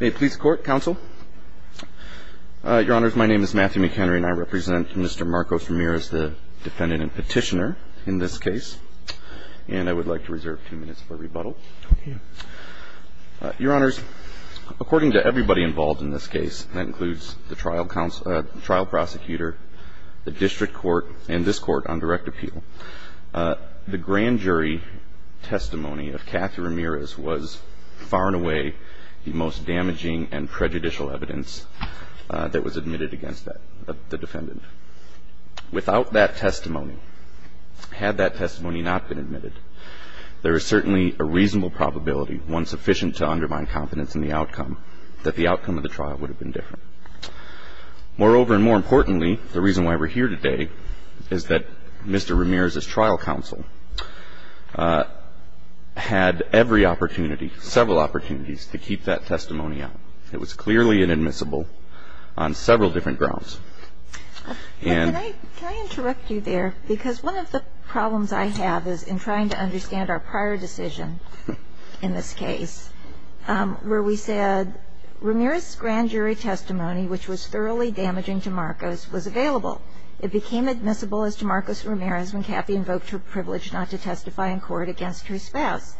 May it please the Court, Counsel. Your Honors, my name is Matthew McHenry and I represent Mr. Marcos Ramirez, the defendant and petitioner in this case. And I would like to reserve two minutes for rebuttal. Your Honors, according to everybody involved in this case, that includes the trial prosecutor, the district court, and this Court on direct appeal, the grand jury, the most damaging and prejudicial evidence that was admitted against the defendant. Without that testimony, had that testimony not been admitted, there is certainly a reasonable probability, one sufficient to undermine confidence in the outcome, that the outcome of the trial would have been different. Moreover, and more importantly, the reason why we're here today is that Mr. Ramirez's trial counsel had every opportunity, several opportunities, to keep that testimony out. It was clearly inadmissible on several different grounds. And can I interrupt you there? Because one of the problems I have is in trying to understand our prior decision in this case, where we said Ramirez's grand jury testimony, which was thoroughly damaging to Marcos, was available. It became admissible as to Marcos Ramirez when Kathy invoked her privilege not to testify in court against her spouse.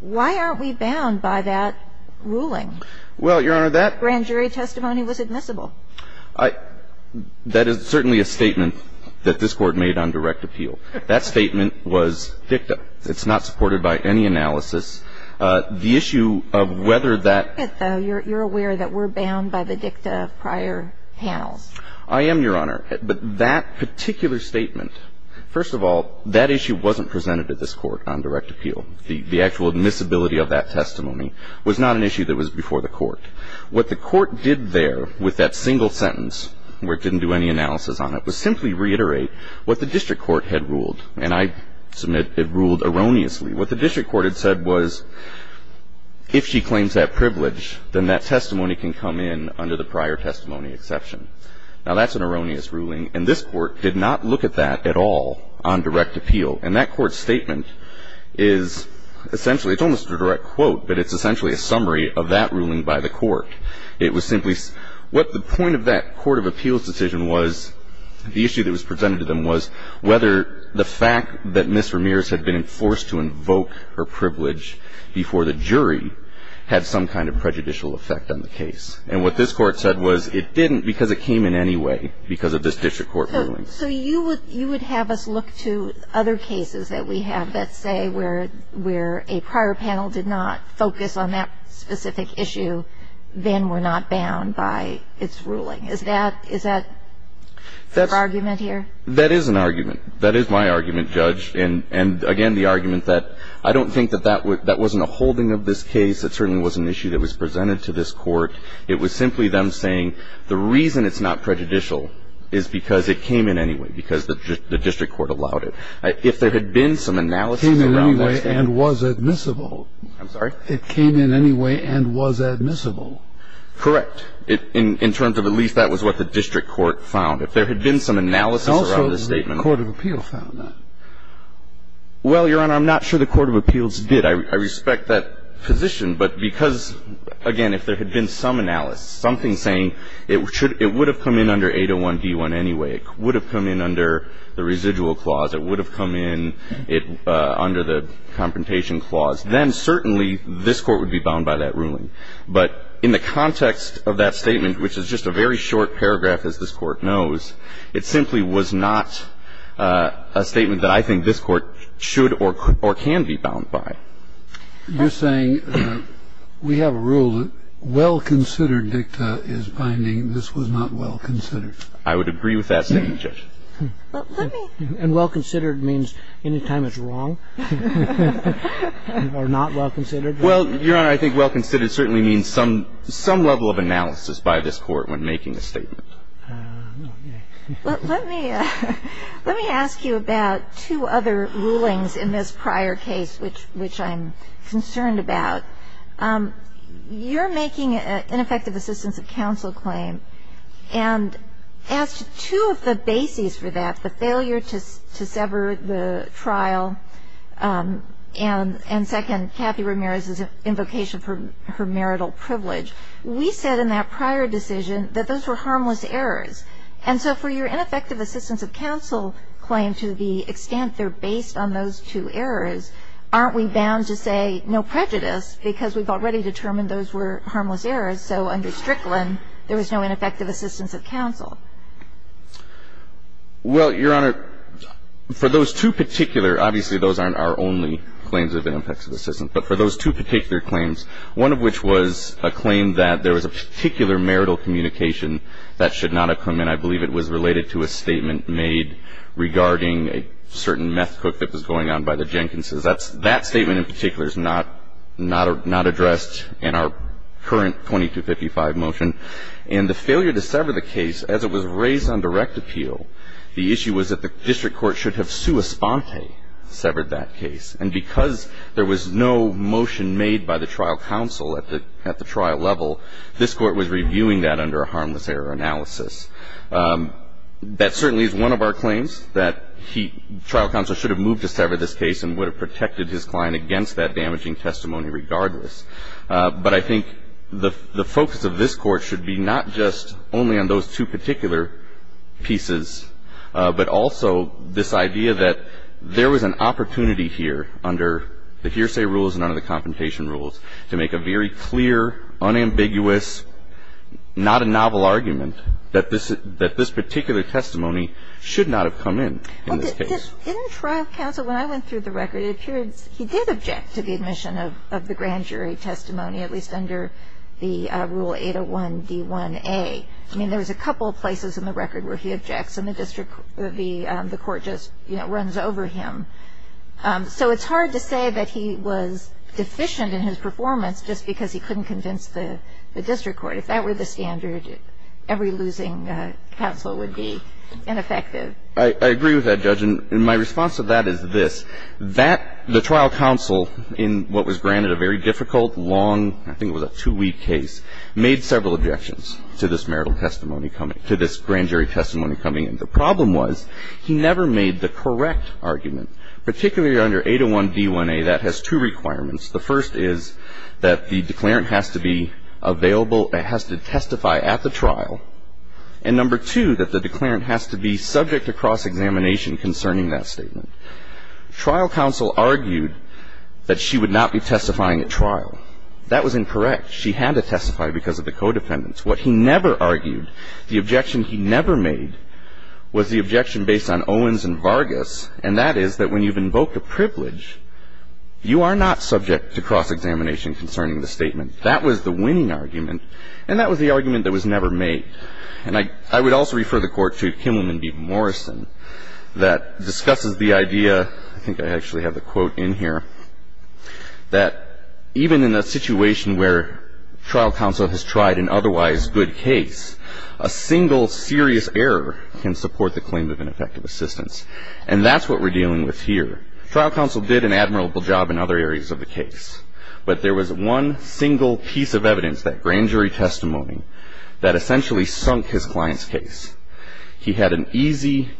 Why aren't we bound by that ruling? Well, Your Honor, that grand jury testimony was admissible. I – that is certainly a statement that this Court made on direct appeal. That statement was dicta. It's not supported by any analysis. The issue of whether that – But you're aware that we're bound by the dicta of prior panels. I am, Your Honor. But that particular statement, first of all, that issue wasn't presented to this Court on direct appeal. The actual admissibility of that testimony was not an issue that was before the Court. What the Court did there with that single sentence, where it didn't do any analysis on it, was simply reiterate what the district court had ruled. And I submit it ruled erroneously. What the district court had said was, if she claims that privilege, then that testimony can come in under the prior testimony exception. Now, that's an erroneous ruling. And this Court did not look at that at all on direct appeal. And that Court's statement is essentially – it's almost a direct quote, but it's essentially a summary of that ruling by the Court. It was simply – what the point of that court of appeals decision was, the issue that was presented to them was whether the fact that Ms. Ramirez had been forced to invoke her privilege before the jury had some kind of prejudicial effect on the case. And what this Court said was it didn't because it came in any way because of this district court ruling. So you would have us look to other cases that we have that say where a prior panel did not focus on that specific issue, then were not bound by its ruling. Is that – is that your argument here? That is an argument. That is my argument, Judge. And again, the argument that I don't think that that wasn't a holding of this case. It certainly wasn't an issue that was presented to this Court. It was simply them saying the reason it's not prejudicial is because it came in any way, because the district court allowed it. If there had been some analysis around that statement – Came in any way and was admissible. I'm sorry? It came in any way and was admissible. Correct. In terms of at least that was what the district court found. If there had been some analysis around the statement – Well, Your Honor, I'm not sure the Court of Appeals did. I respect that position. But because, again, if there had been some analysis, something saying it should – it would have come in under 801d1 anyway, it would have come in under the residual clause, it would have come in under the confrontation clause, then certainly this Court would be bound by that ruling. But in the context of that statement, which is just a very short paragraph, as this Court knows, it simply was not a statement that I think this Court should or can be bound by. You're saying we have a rule that well-considered dicta is binding. This was not well-considered. I would agree with that statement, Judge. And well-considered means any time it's wrong or not well-considered? Well, Your Honor, I think well-considered certainly means some level of analysis by this Court when making a statement. Let me ask you about two other rulings in this prior case, which I'm concerned about. You're making an ineffective assistance of counsel claim. And as to two of the bases for that, the failure to sever the trial and, second, Kathy Ramirez's invocation for her marital privilege, we said in that prior decision that those were harmless errors. And so for your ineffective assistance of counsel claim, to the extent they're based on those two errors, aren't we bound to say no prejudice because we've already determined those were harmless errors, so under Strickland there was no ineffective assistance of counsel? Well, Your Honor, for those two particular – obviously, those aren't our only claims of ineffective assistance – but for those two particular claims, one of which was a claim that there was a particular marital communication that should not have come in, I believe it was related to a statement made regarding a certain meth cook that was going on by the Jenkins's, that statement in particular is not addressed in our current 2255 motion. And the failure to sever the case, as it was raised on direct appeal, the issue was that the district court should have sua sponte, severed that case. And because there was no motion made by the trial counsel at the trial level, this Court was reviewing that under a harmless error analysis. That certainly is one of our claims, that trial counsel should have moved to sever this case and would have protected his client against that damaging testimony regardless. But I think the focus of this Court should be not just only on those two particular pieces, but also this idea that there was an opportunity here to make a very clear, unambiguous, not a novel argument that this particular testimony should not have come in, in this case. Well, didn't trial counsel, when I went through the record, it appears he did object to the admission of the grand jury testimony, at least under the rule 801D1A. I mean, there was a couple of places in the record where he objects and the district – the Court just, you know, runs over him. So it's hard to say that he was deficient in his performance just because he couldn't convince the district court. If that were the standard, every losing counsel would be ineffective. I agree with that, Judge. And my response to that is this. That – the trial counsel in what was granted a very difficult, long, I think it was a two-week case, made several objections to this marital testimony coming – to this grand jury testimony coming in. The problem was he never made the correct argument, particularly under 801D1A. That has two requirements. The first is that the declarant has to be available – has to testify at the trial. And number two, that the declarant has to be subject to cross-examination concerning that statement. Trial counsel argued that she would not be testifying at trial. That was incorrect. She had to testify because of the co-defendants. What he never argued, the objection he never made, was the objection based on Owens and Vargas, and that is that when you've invoked a privilege, you are not subject to cross-examination concerning the statement. That was the winning argument, and that was the argument that was never made. And I – I would also refer the Court to Kimmelman v. Morrison that discusses the idea – I think I actually have the quote in here – that even in a situation where trial counsel has tried an otherwise good case, a single serious error can support the claim of an effective assistance. And that's what we're dealing with here. Trial counsel did an admirable job in other areas of the case, but there was one single piece of evidence, that grand jury testimony, that essentially sunk his client's case. He had an easy,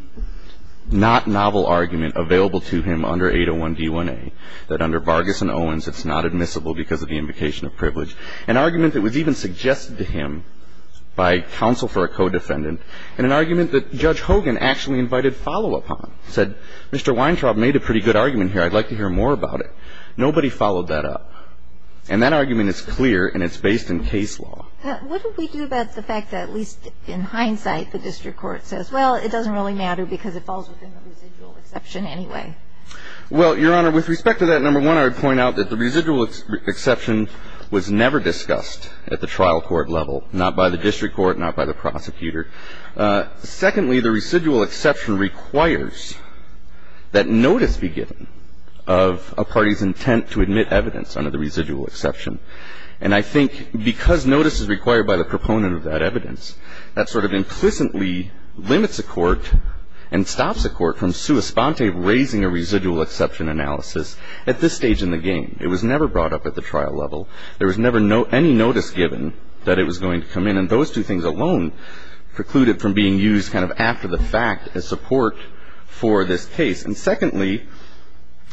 not novel argument available to him under 801D1A, that under Vargas and Owens, it's not admissible because of the invocation of privilege. An argument that was even suggested to him by counsel for a co-defendant, and an argument that Judge Hogan actually invited follow-up on, said, Mr. Weintraub made a pretty good argument here. I'd like to hear more about it. Nobody followed that up. And that argument is clear, and it's based in case law. What do we do about the fact that, at least in hindsight, the district court says, well, it doesn't really matter because it falls within the residual exception anyway? Well, Your Honor, with respect to that, number one, I would point out that the residual exception was never discussed at the trial court level, not by the district court, not by the prosecutor. Secondly, the residual exception requires that notice be given of a party's intent to admit evidence under the residual exception. And I think because notice is required by the proponent of that evidence, that sort of implicitly limits a court and stops a court from sua sponte raising a residual exception analysis at this stage in the game. It was never brought up at the trial level. There was never any notice given that it was going to come in. And those two things alone preclude it from being used kind of after the fact as support for this case. And secondly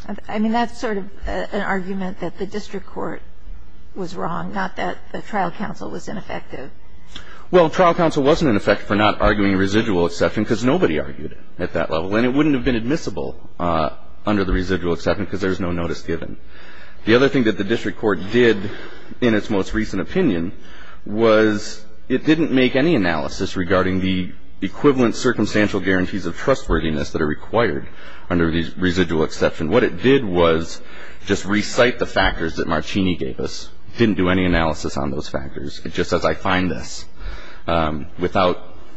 ---- I mean, that's sort of an argument that the district court was wrong, not that the trial counsel was ineffective. Well, trial counsel wasn't ineffective for not arguing residual exception because nobody argued it at that level. And it wouldn't have been admissible under the residual exception because there was no notice given. The other thing that the district court did in its most recent opinion was it didn't make any analysis regarding the equivalent circumstantial guarantees of trustworthiness that are required under the residual exception. What it did was just recite the factors that Marcini gave us. It didn't do any analysis on those factors. It just says I find this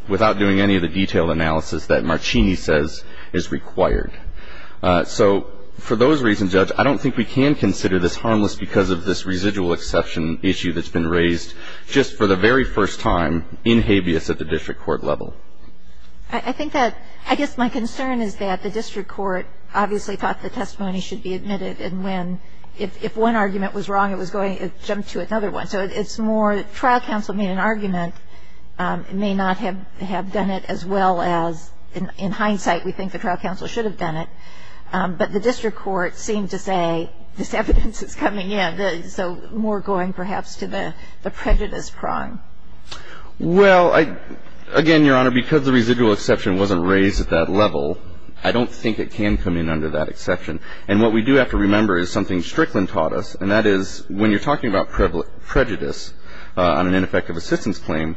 without doing any of the detailed analysis that Marcini says is required. So for those reasons, Judge, I don't think we can consider this harmless because of this residual exception issue that's been raised just for the very first time in habeas at the district court level. I think that ---- I guess my concern is that the district court obviously thought the testimony should be admitted. And when ---- if one argument was wrong, it was going to jump to another one. So it's more trial counsel made an argument. It may not have done it as well as in hindsight we think the trial counsel should have done it. But the district court seemed to say this evidence is coming in. So more going perhaps to the prejudice prong. Well, again, Your Honor, because the residual exception wasn't raised at that level, I don't think it can come in under that exception. And what we do have to remember is something Strickland taught us, and that is when you're talking about prejudice on an ineffective assistance claim,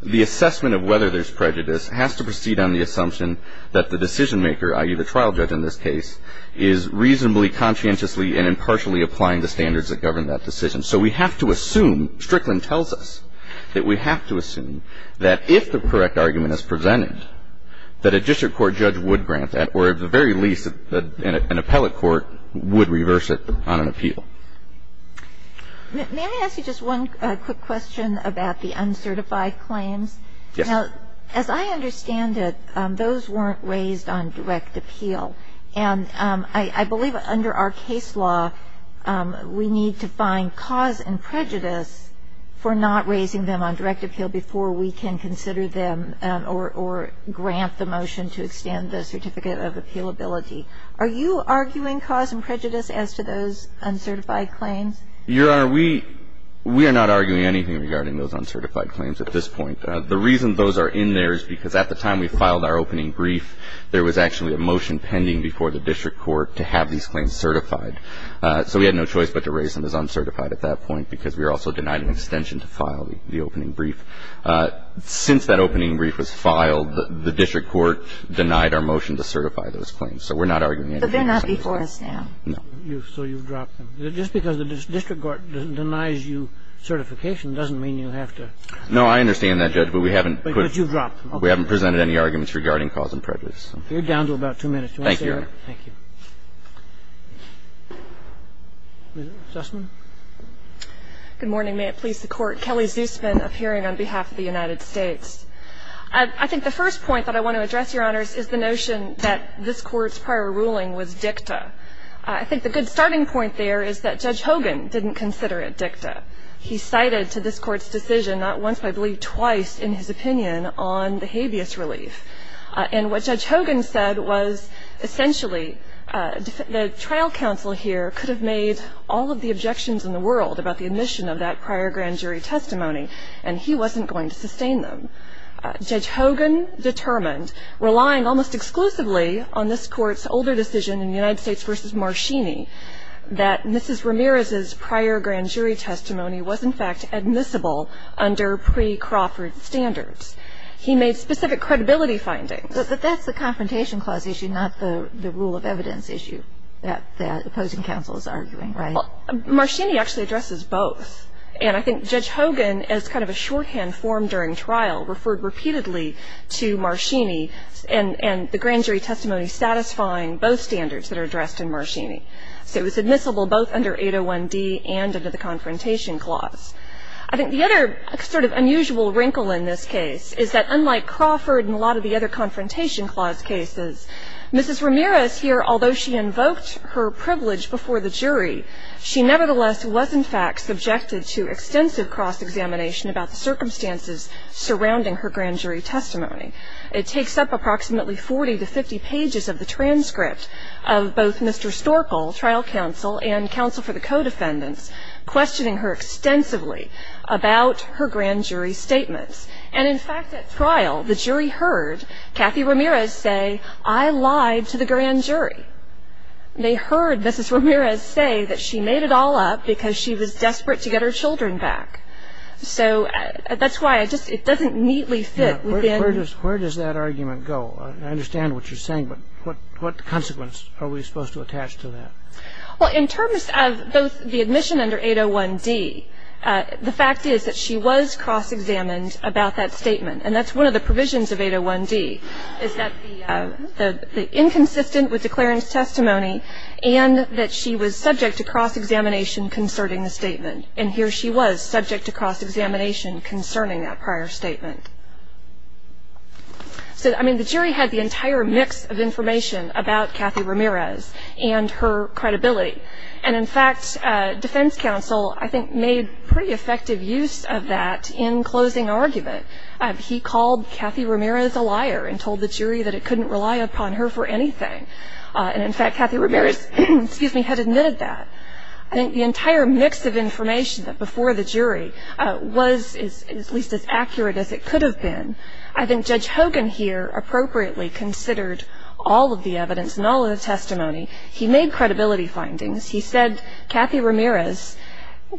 the assessment of whether there's prejudice has to proceed on the assumption that the decision maker, i.e., the trial judge in this case, is reasonably conscientiously and impartially applying the standards that govern that decision. So we have to assume, Strickland tells us, that we have to assume that if the correct argument is presented, that a district court judge would grant that or at the very least an appellate court would reverse it on an appeal. May I ask you just one quick question about the uncertified claims? Yes. Now, as I understand it, those weren't raised on direct appeal. And I believe under our case law we need to find cause and prejudice for not raising them on direct appeal before we can consider them or grant the motion to extend the certificate of appealability. Are you arguing cause and prejudice as to those uncertified claims? Your Honor, we are not arguing anything regarding those uncertified claims at this point. The reason those are in there is because at the time we filed our opening brief, there was actually a motion pending before the district court to have these claims certified. So we had no choice but to raise them as uncertified at that point because we were also denied an extension to file the opening brief. Since that opening brief was filed, the district court denied our motion to certify those claims, so we're not arguing anything. But they're not before us now. No. So you've dropped them. Just because the district court denies you certification doesn't mean you have to. No, I understand that, Judge, but we haven't presented any arguments regarding cause and prejudice. You're down to about two minutes. Thank you, Your Honor. Thank you. Ms. Zussman. Good morning. May it please the Court. Kelly Zussman appearing on behalf of the United States. I think the first point that I want to address, Your Honors, is the notion that this Court's prior ruling was dicta. I think the good starting point there is that Judge Hogan didn't consider it dicta. He cited to this Court's decision not once but I believe twice in his opinion on the habeas relief. And what Judge Hogan said was essentially the trial counsel here could have made all of the objections in the world about the admission of that prior grand jury testimony, and he wasn't going to sustain them. Judge Hogan determined, relying almost exclusively on this Court's older decision in the United States v. Marchini, that Mrs. Ramirez's prior grand jury testimony was, in fact, admissible under pre-Crawford standards. He made specific credibility findings. But that's the Confrontation Clause issue, not the rule of evidence issue that the opposing counsel is arguing, right? Marchini actually addresses both. And I think Judge Hogan, as kind of a shorthand form during trial, referred repeatedly to Marchini and the grand jury testimony satisfying both standards that are addressed in Marchini. So it was admissible both under 801D and under the Confrontation Clause. I think the other sort of unusual wrinkle in this case is that unlike Crawford and a lot of the other Confrontation Clause cases, Mrs. Ramirez here, although she cross-examination about the circumstances surrounding her grand jury testimony. It takes up approximately 40 to 50 pages of the transcript of both Mr. Storple, trial counsel, and counsel for the co-defendants, questioning her extensively about her grand jury statements. And, in fact, at trial, the jury heard Kathy Ramirez say, I lied to the grand jury. They heard Mrs. Ramirez say that she made it all up because she was desperate to get her children back. So that's why it doesn't neatly fit within. Where does that argument go? I understand what you're saying, but what consequence are we supposed to attach to that? Well, in terms of both the admission under 801D, the fact is that she was cross-examined about that statement. And that's one of the provisions of 801D, is that the inconsistent with declarant's testimony and that she was subject to cross-examination concerning the statement. And here she was, subject to cross-examination concerning that prior statement. So, I mean, the jury had the entire mix of information about Kathy Ramirez and her credibility. And, in fact, defense counsel, I think, made pretty effective use of that in closing argument. He called Kathy Ramirez a liar and told the jury that it couldn't rely upon her for anything. And, in fact, Kathy Ramirez had admitted that. I think the entire mix of information before the jury was at least as accurate as it could have been. I think Judge Hogan here appropriately considered all of the evidence and all of the testimony. He made credibility findings. He said Kathy Ramirez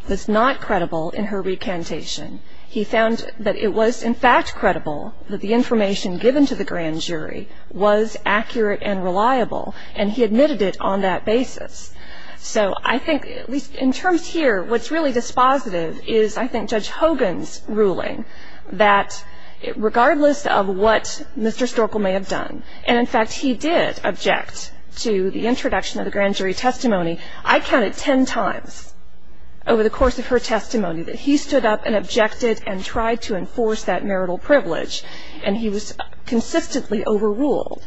was not credible in her recantation. He found that it was, in fact, credible that the information given to the grand jury was accurate and reliable, and he admitted it on that basis. So I think, at least in terms here, what's really dispositive is, I think, Judge Hogan's ruling that regardless of what Mr. Storkel may have done, and, in fact, he did object to the introduction of the grand jury testimony. I counted ten times over the course of her testimony that he stood up and objected and tried to enforce that marital privilege, and he was consistently overruled.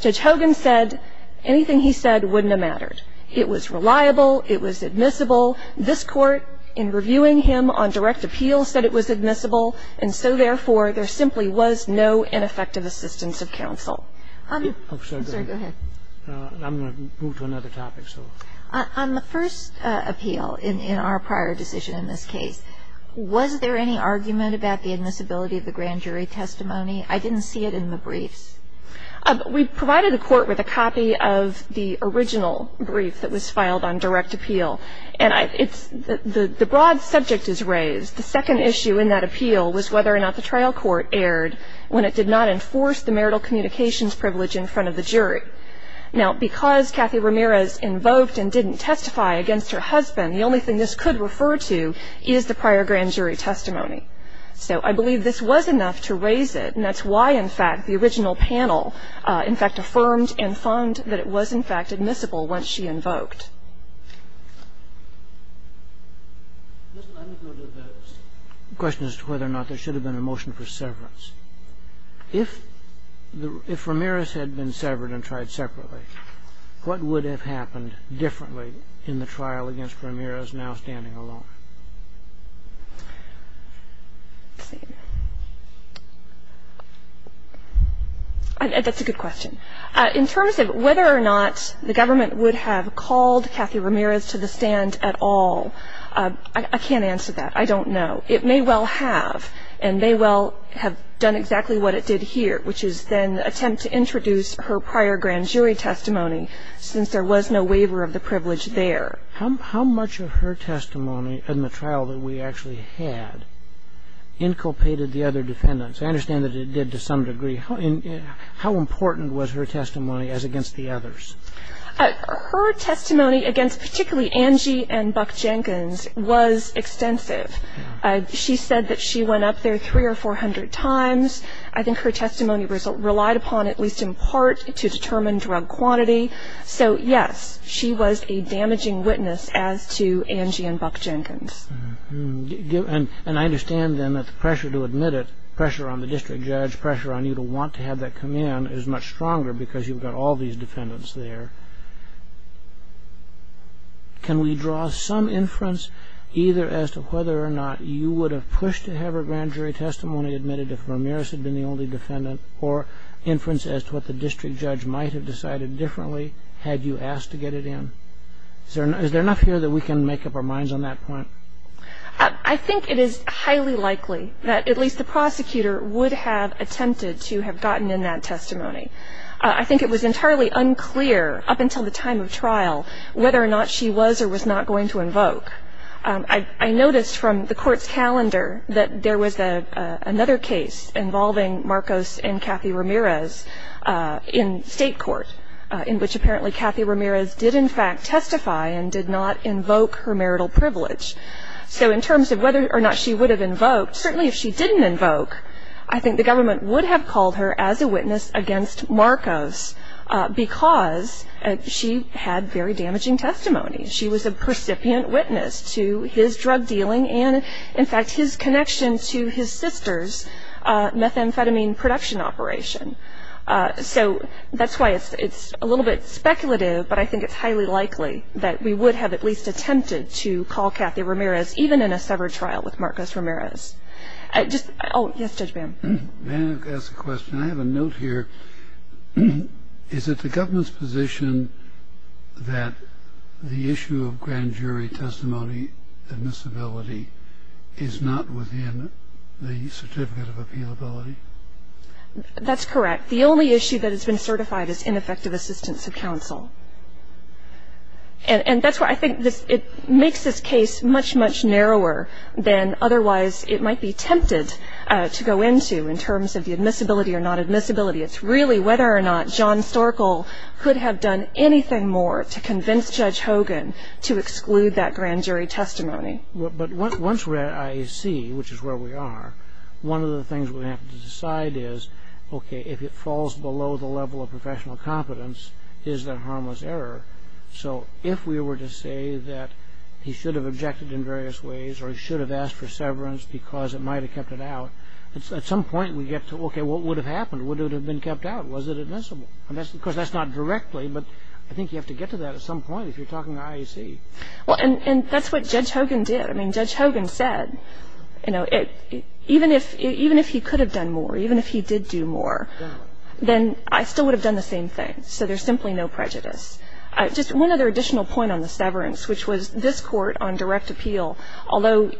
Judge Hogan said anything he said wouldn't have mattered. It was reliable. It was admissible. This Court, in reviewing him on direct appeal, said it was admissible, and so, therefore, there simply was no ineffective assistance of counsel. I'm sorry. Go ahead. I'm going to move to another topic, so. On the first appeal in our prior decision in this case, was there any argument about the admissibility of the grand jury testimony? I didn't see it in the briefs. We provided the Court with a copy of the original brief that was filed on direct appeal, and it's the broad subject is raised. The second issue in that appeal was whether or not the trial court erred when it did not enforce the marital communications privilege in front of the jury. Now, because Kathy Ramirez invoked and didn't testify against her husband, the only thing this could refer to is the prior grand jury testimony. So I believe this was enough to raise it, and that's why, in fact, the original panel, in fact, affirmed and found that it was, in fact, admissible once she invoked. Let me go to the question as to whether or not there should have been a motion for severance. If Ramirez had been severed and tried separately, what would have happened differently in the trial against Ramirez now standing alone? Let's see. That's a good question. In terms of whether or not the government would have called Kathy Ramirez to the stand at all, I can't answer that. I don't know. It may well have, and may well have done exactly what it did here, which is then attempt to introduce her prior grand jury testimony, since there was no waiver of the privilege there. How much of her testimony in the trial that we actually had inculpated the other defendants? I understand that it did to some degree. How important was her testimony as against the others? Her testimony against particularly Angie and Buck Jenkins was extensive. She said that she went up there 300 or 400 times. I think her testimony relied upon, at least in part, to determine drug quantity. So, yes, she was a damaging witness as to Angie and Buck Jenkins. I understand then that the pressure to admit it, pressure on the district judge, pressure on you to want to have that come in, is much stronger because you've got all these defendants there. Can we draw some inference either as to whether or not you would have pushed to have her grand jury testimony admitted if Ramirez had been the only defendant, or inference as to what the district judge might have decided differently had you asked to get it in? Is there enough here that we can make up our minds on that point? I think it is highly likely that at least the prosecutor would have attempted to have gotten in that testimony. I think it was entirely unclear up until the time of trial whether or not she was or was not going to invoke. I noticed from the Court's calendar that there was another case involving Marcos and did not invoke her marital privilege. So in terms of whether or not she would have invoked, certainly if she didn't invoke, I think the government would have called her as a witness against Marcos because she had very damaging testimony. She was a percipient witness to his drug dealing and, in fact, his connection to his sister's methamphetamine production operation. So that's why it's a little bit speculative, but I think it's highly likely that we would have at least attempted to call Cathy Ramirez, even in a severed trial with Marcos Ramirez. Oh, yes, Judge Bam. May I ask a question? I have a note here. Is it the government's position that the issue of grand jury testimony admissibility is not within the certificate of appealability? That's correct. The only issue that has been certified is ineffective assistance of counsel. And that's why I think it makes this case much, much narrower than otherwise it might be tempted to go into in terms of the admissibility or not admissibility. It's really whether or not John Storkel could have done anything more to convince Judge Hogan to exclude that grand jury testimony. But once we're at IAC, which is where we are, one of the things we have to decide is, okay, if it falls below the level of professional competence, is that harmless error? So if we were to say that he should have objected in various ways or he should have asked for severance because it might have kept it out, at some point we get to, okay, what would have happened? Would it have been kept out? Was it admissible? Of course, that's not directly, but I think you have to get to that at some point if you're talking to IAC. Well, and that's what Judge Hogan did. I mean, Judge Hogan said, you know, even if he could have done more, even if he did do more, then I still would have done the same thing. So there's simply no prejudice. Just one other additional point on the severance, which was this Court on direct appeal, although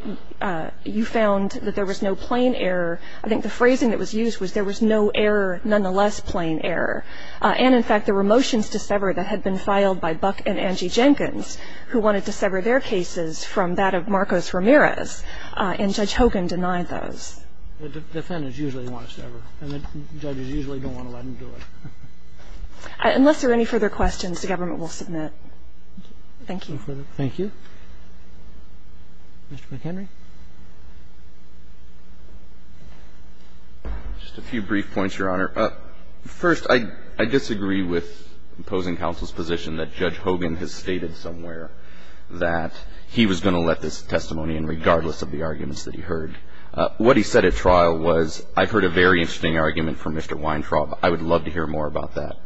you found that there was no plain error, I think the phrasing that was used was there was no error, nonetheless plain error. And in fact, there were motions to sever that had been filed by Buck and Angie Jenkins who wanted to sever their cases from that of Marcos Ramirez, and Judge Hogan denied those. The defendants usually want to sever, and the judges usually don't want to let them do it. Unless there are any further questions, the government will submit. Thank you. Thank you. Mr. McHenry. Just a few brief points, Your Honor. First, I disagree with opposing counsel's position that Judge Hogan has stated somewhere that he was going to let this testimony in regardless of the arguments that he heard. What he said at trial was, I heard a very interesting argument from Mr. Weintraub. I would love to hear more about that.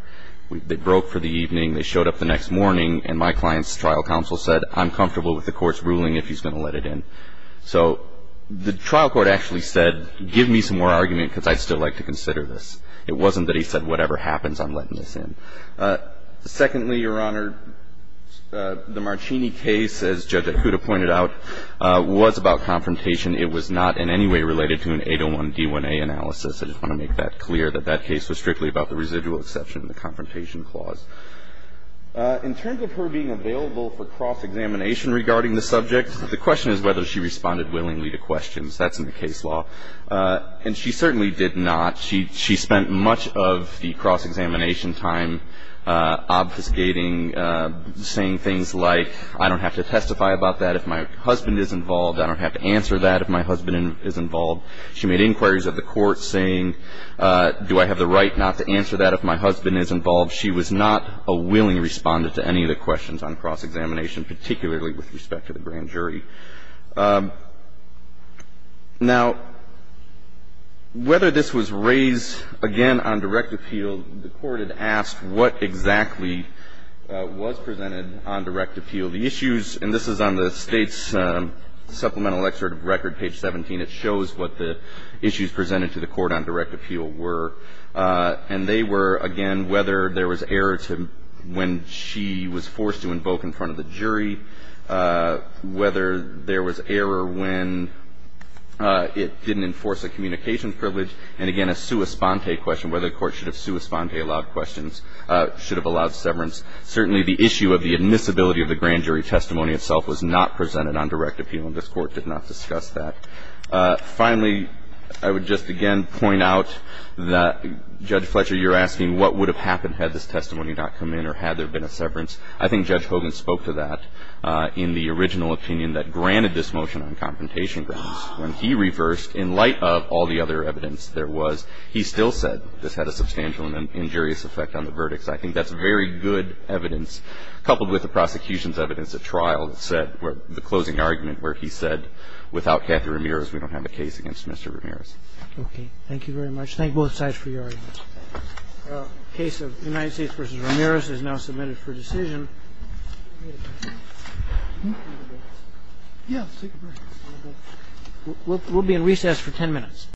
They broke for the evening. They showed up the next morning, and my client's trial counsel said, I'm comfortable with the Court's ruling if he's going to let it in. So the trial court actually said, give me some more argument because I'd still like to consider this. It wasn't that he said, whatever happens, I'm letting this in. Secondly, Your Honor, the Marcini case, as Judge Ahuda pointed out, was about confrontation. It was not in any way related to an 801d1a analysis. I just want to make that clear, that that case was strictly about the residual exception and the confrontation clause. In terms of her being available for cross-examination regarding the subject, the question is whether she responded willingly to questions. That's in the case law. And she certainly did not. She spent much of the cross-examination time obfuscating, saying things like, I don't have to testify about that if my husband is involved. I don't have to answer that if my husband is involved. She made inquiries of the Court saying, do I have the right not to answer that if my husband is involved? She was not a willing respondent to any of the questions on cross-examination, particularly with respect to the grand jury. Now, whether this was raised, again, on direct appeal, the Court had asked what exactly was presented on direct appeal. The issues, and this is on the State's Supplemental Excerpt of Record, page 17, it shows what the issues presented to the Court on direct appeal were. And they were, again, whether there was error when she was forced to invoke in front of the jury, whether there was error when it didn't enforce a communication privilege, and, again, a sua sponte question, whether the Court should have sua sponte allowed questions, should have allowed severance. Certainly, the issue of the admissibility of the grand jury testimony itself was not presented on direct appeal, and this Court did not discuss that. Finally, I would just again point out that, Judge Fletcher, you're asking what would have happened had this testimony not come in or had there been a severance. I think Judge Hogan spoke to that in the original opinion that granted this motion on confrontation grounds. When he reversed, in light of all the other evidence there was, he still said this had a substantial and injurious effect on the verdict. So I think that's very good evidence, coupled with the prosecution's evidence at trial that said, the closing argument where he said, without Kathy Ramirez, we don't have a case against Mr. Ramirez. Okay. Thank you very much. Thank both sides for your arguments. The case of United States v. Ramirez is now submitted for decision. We'll be in recess for 10 minutes.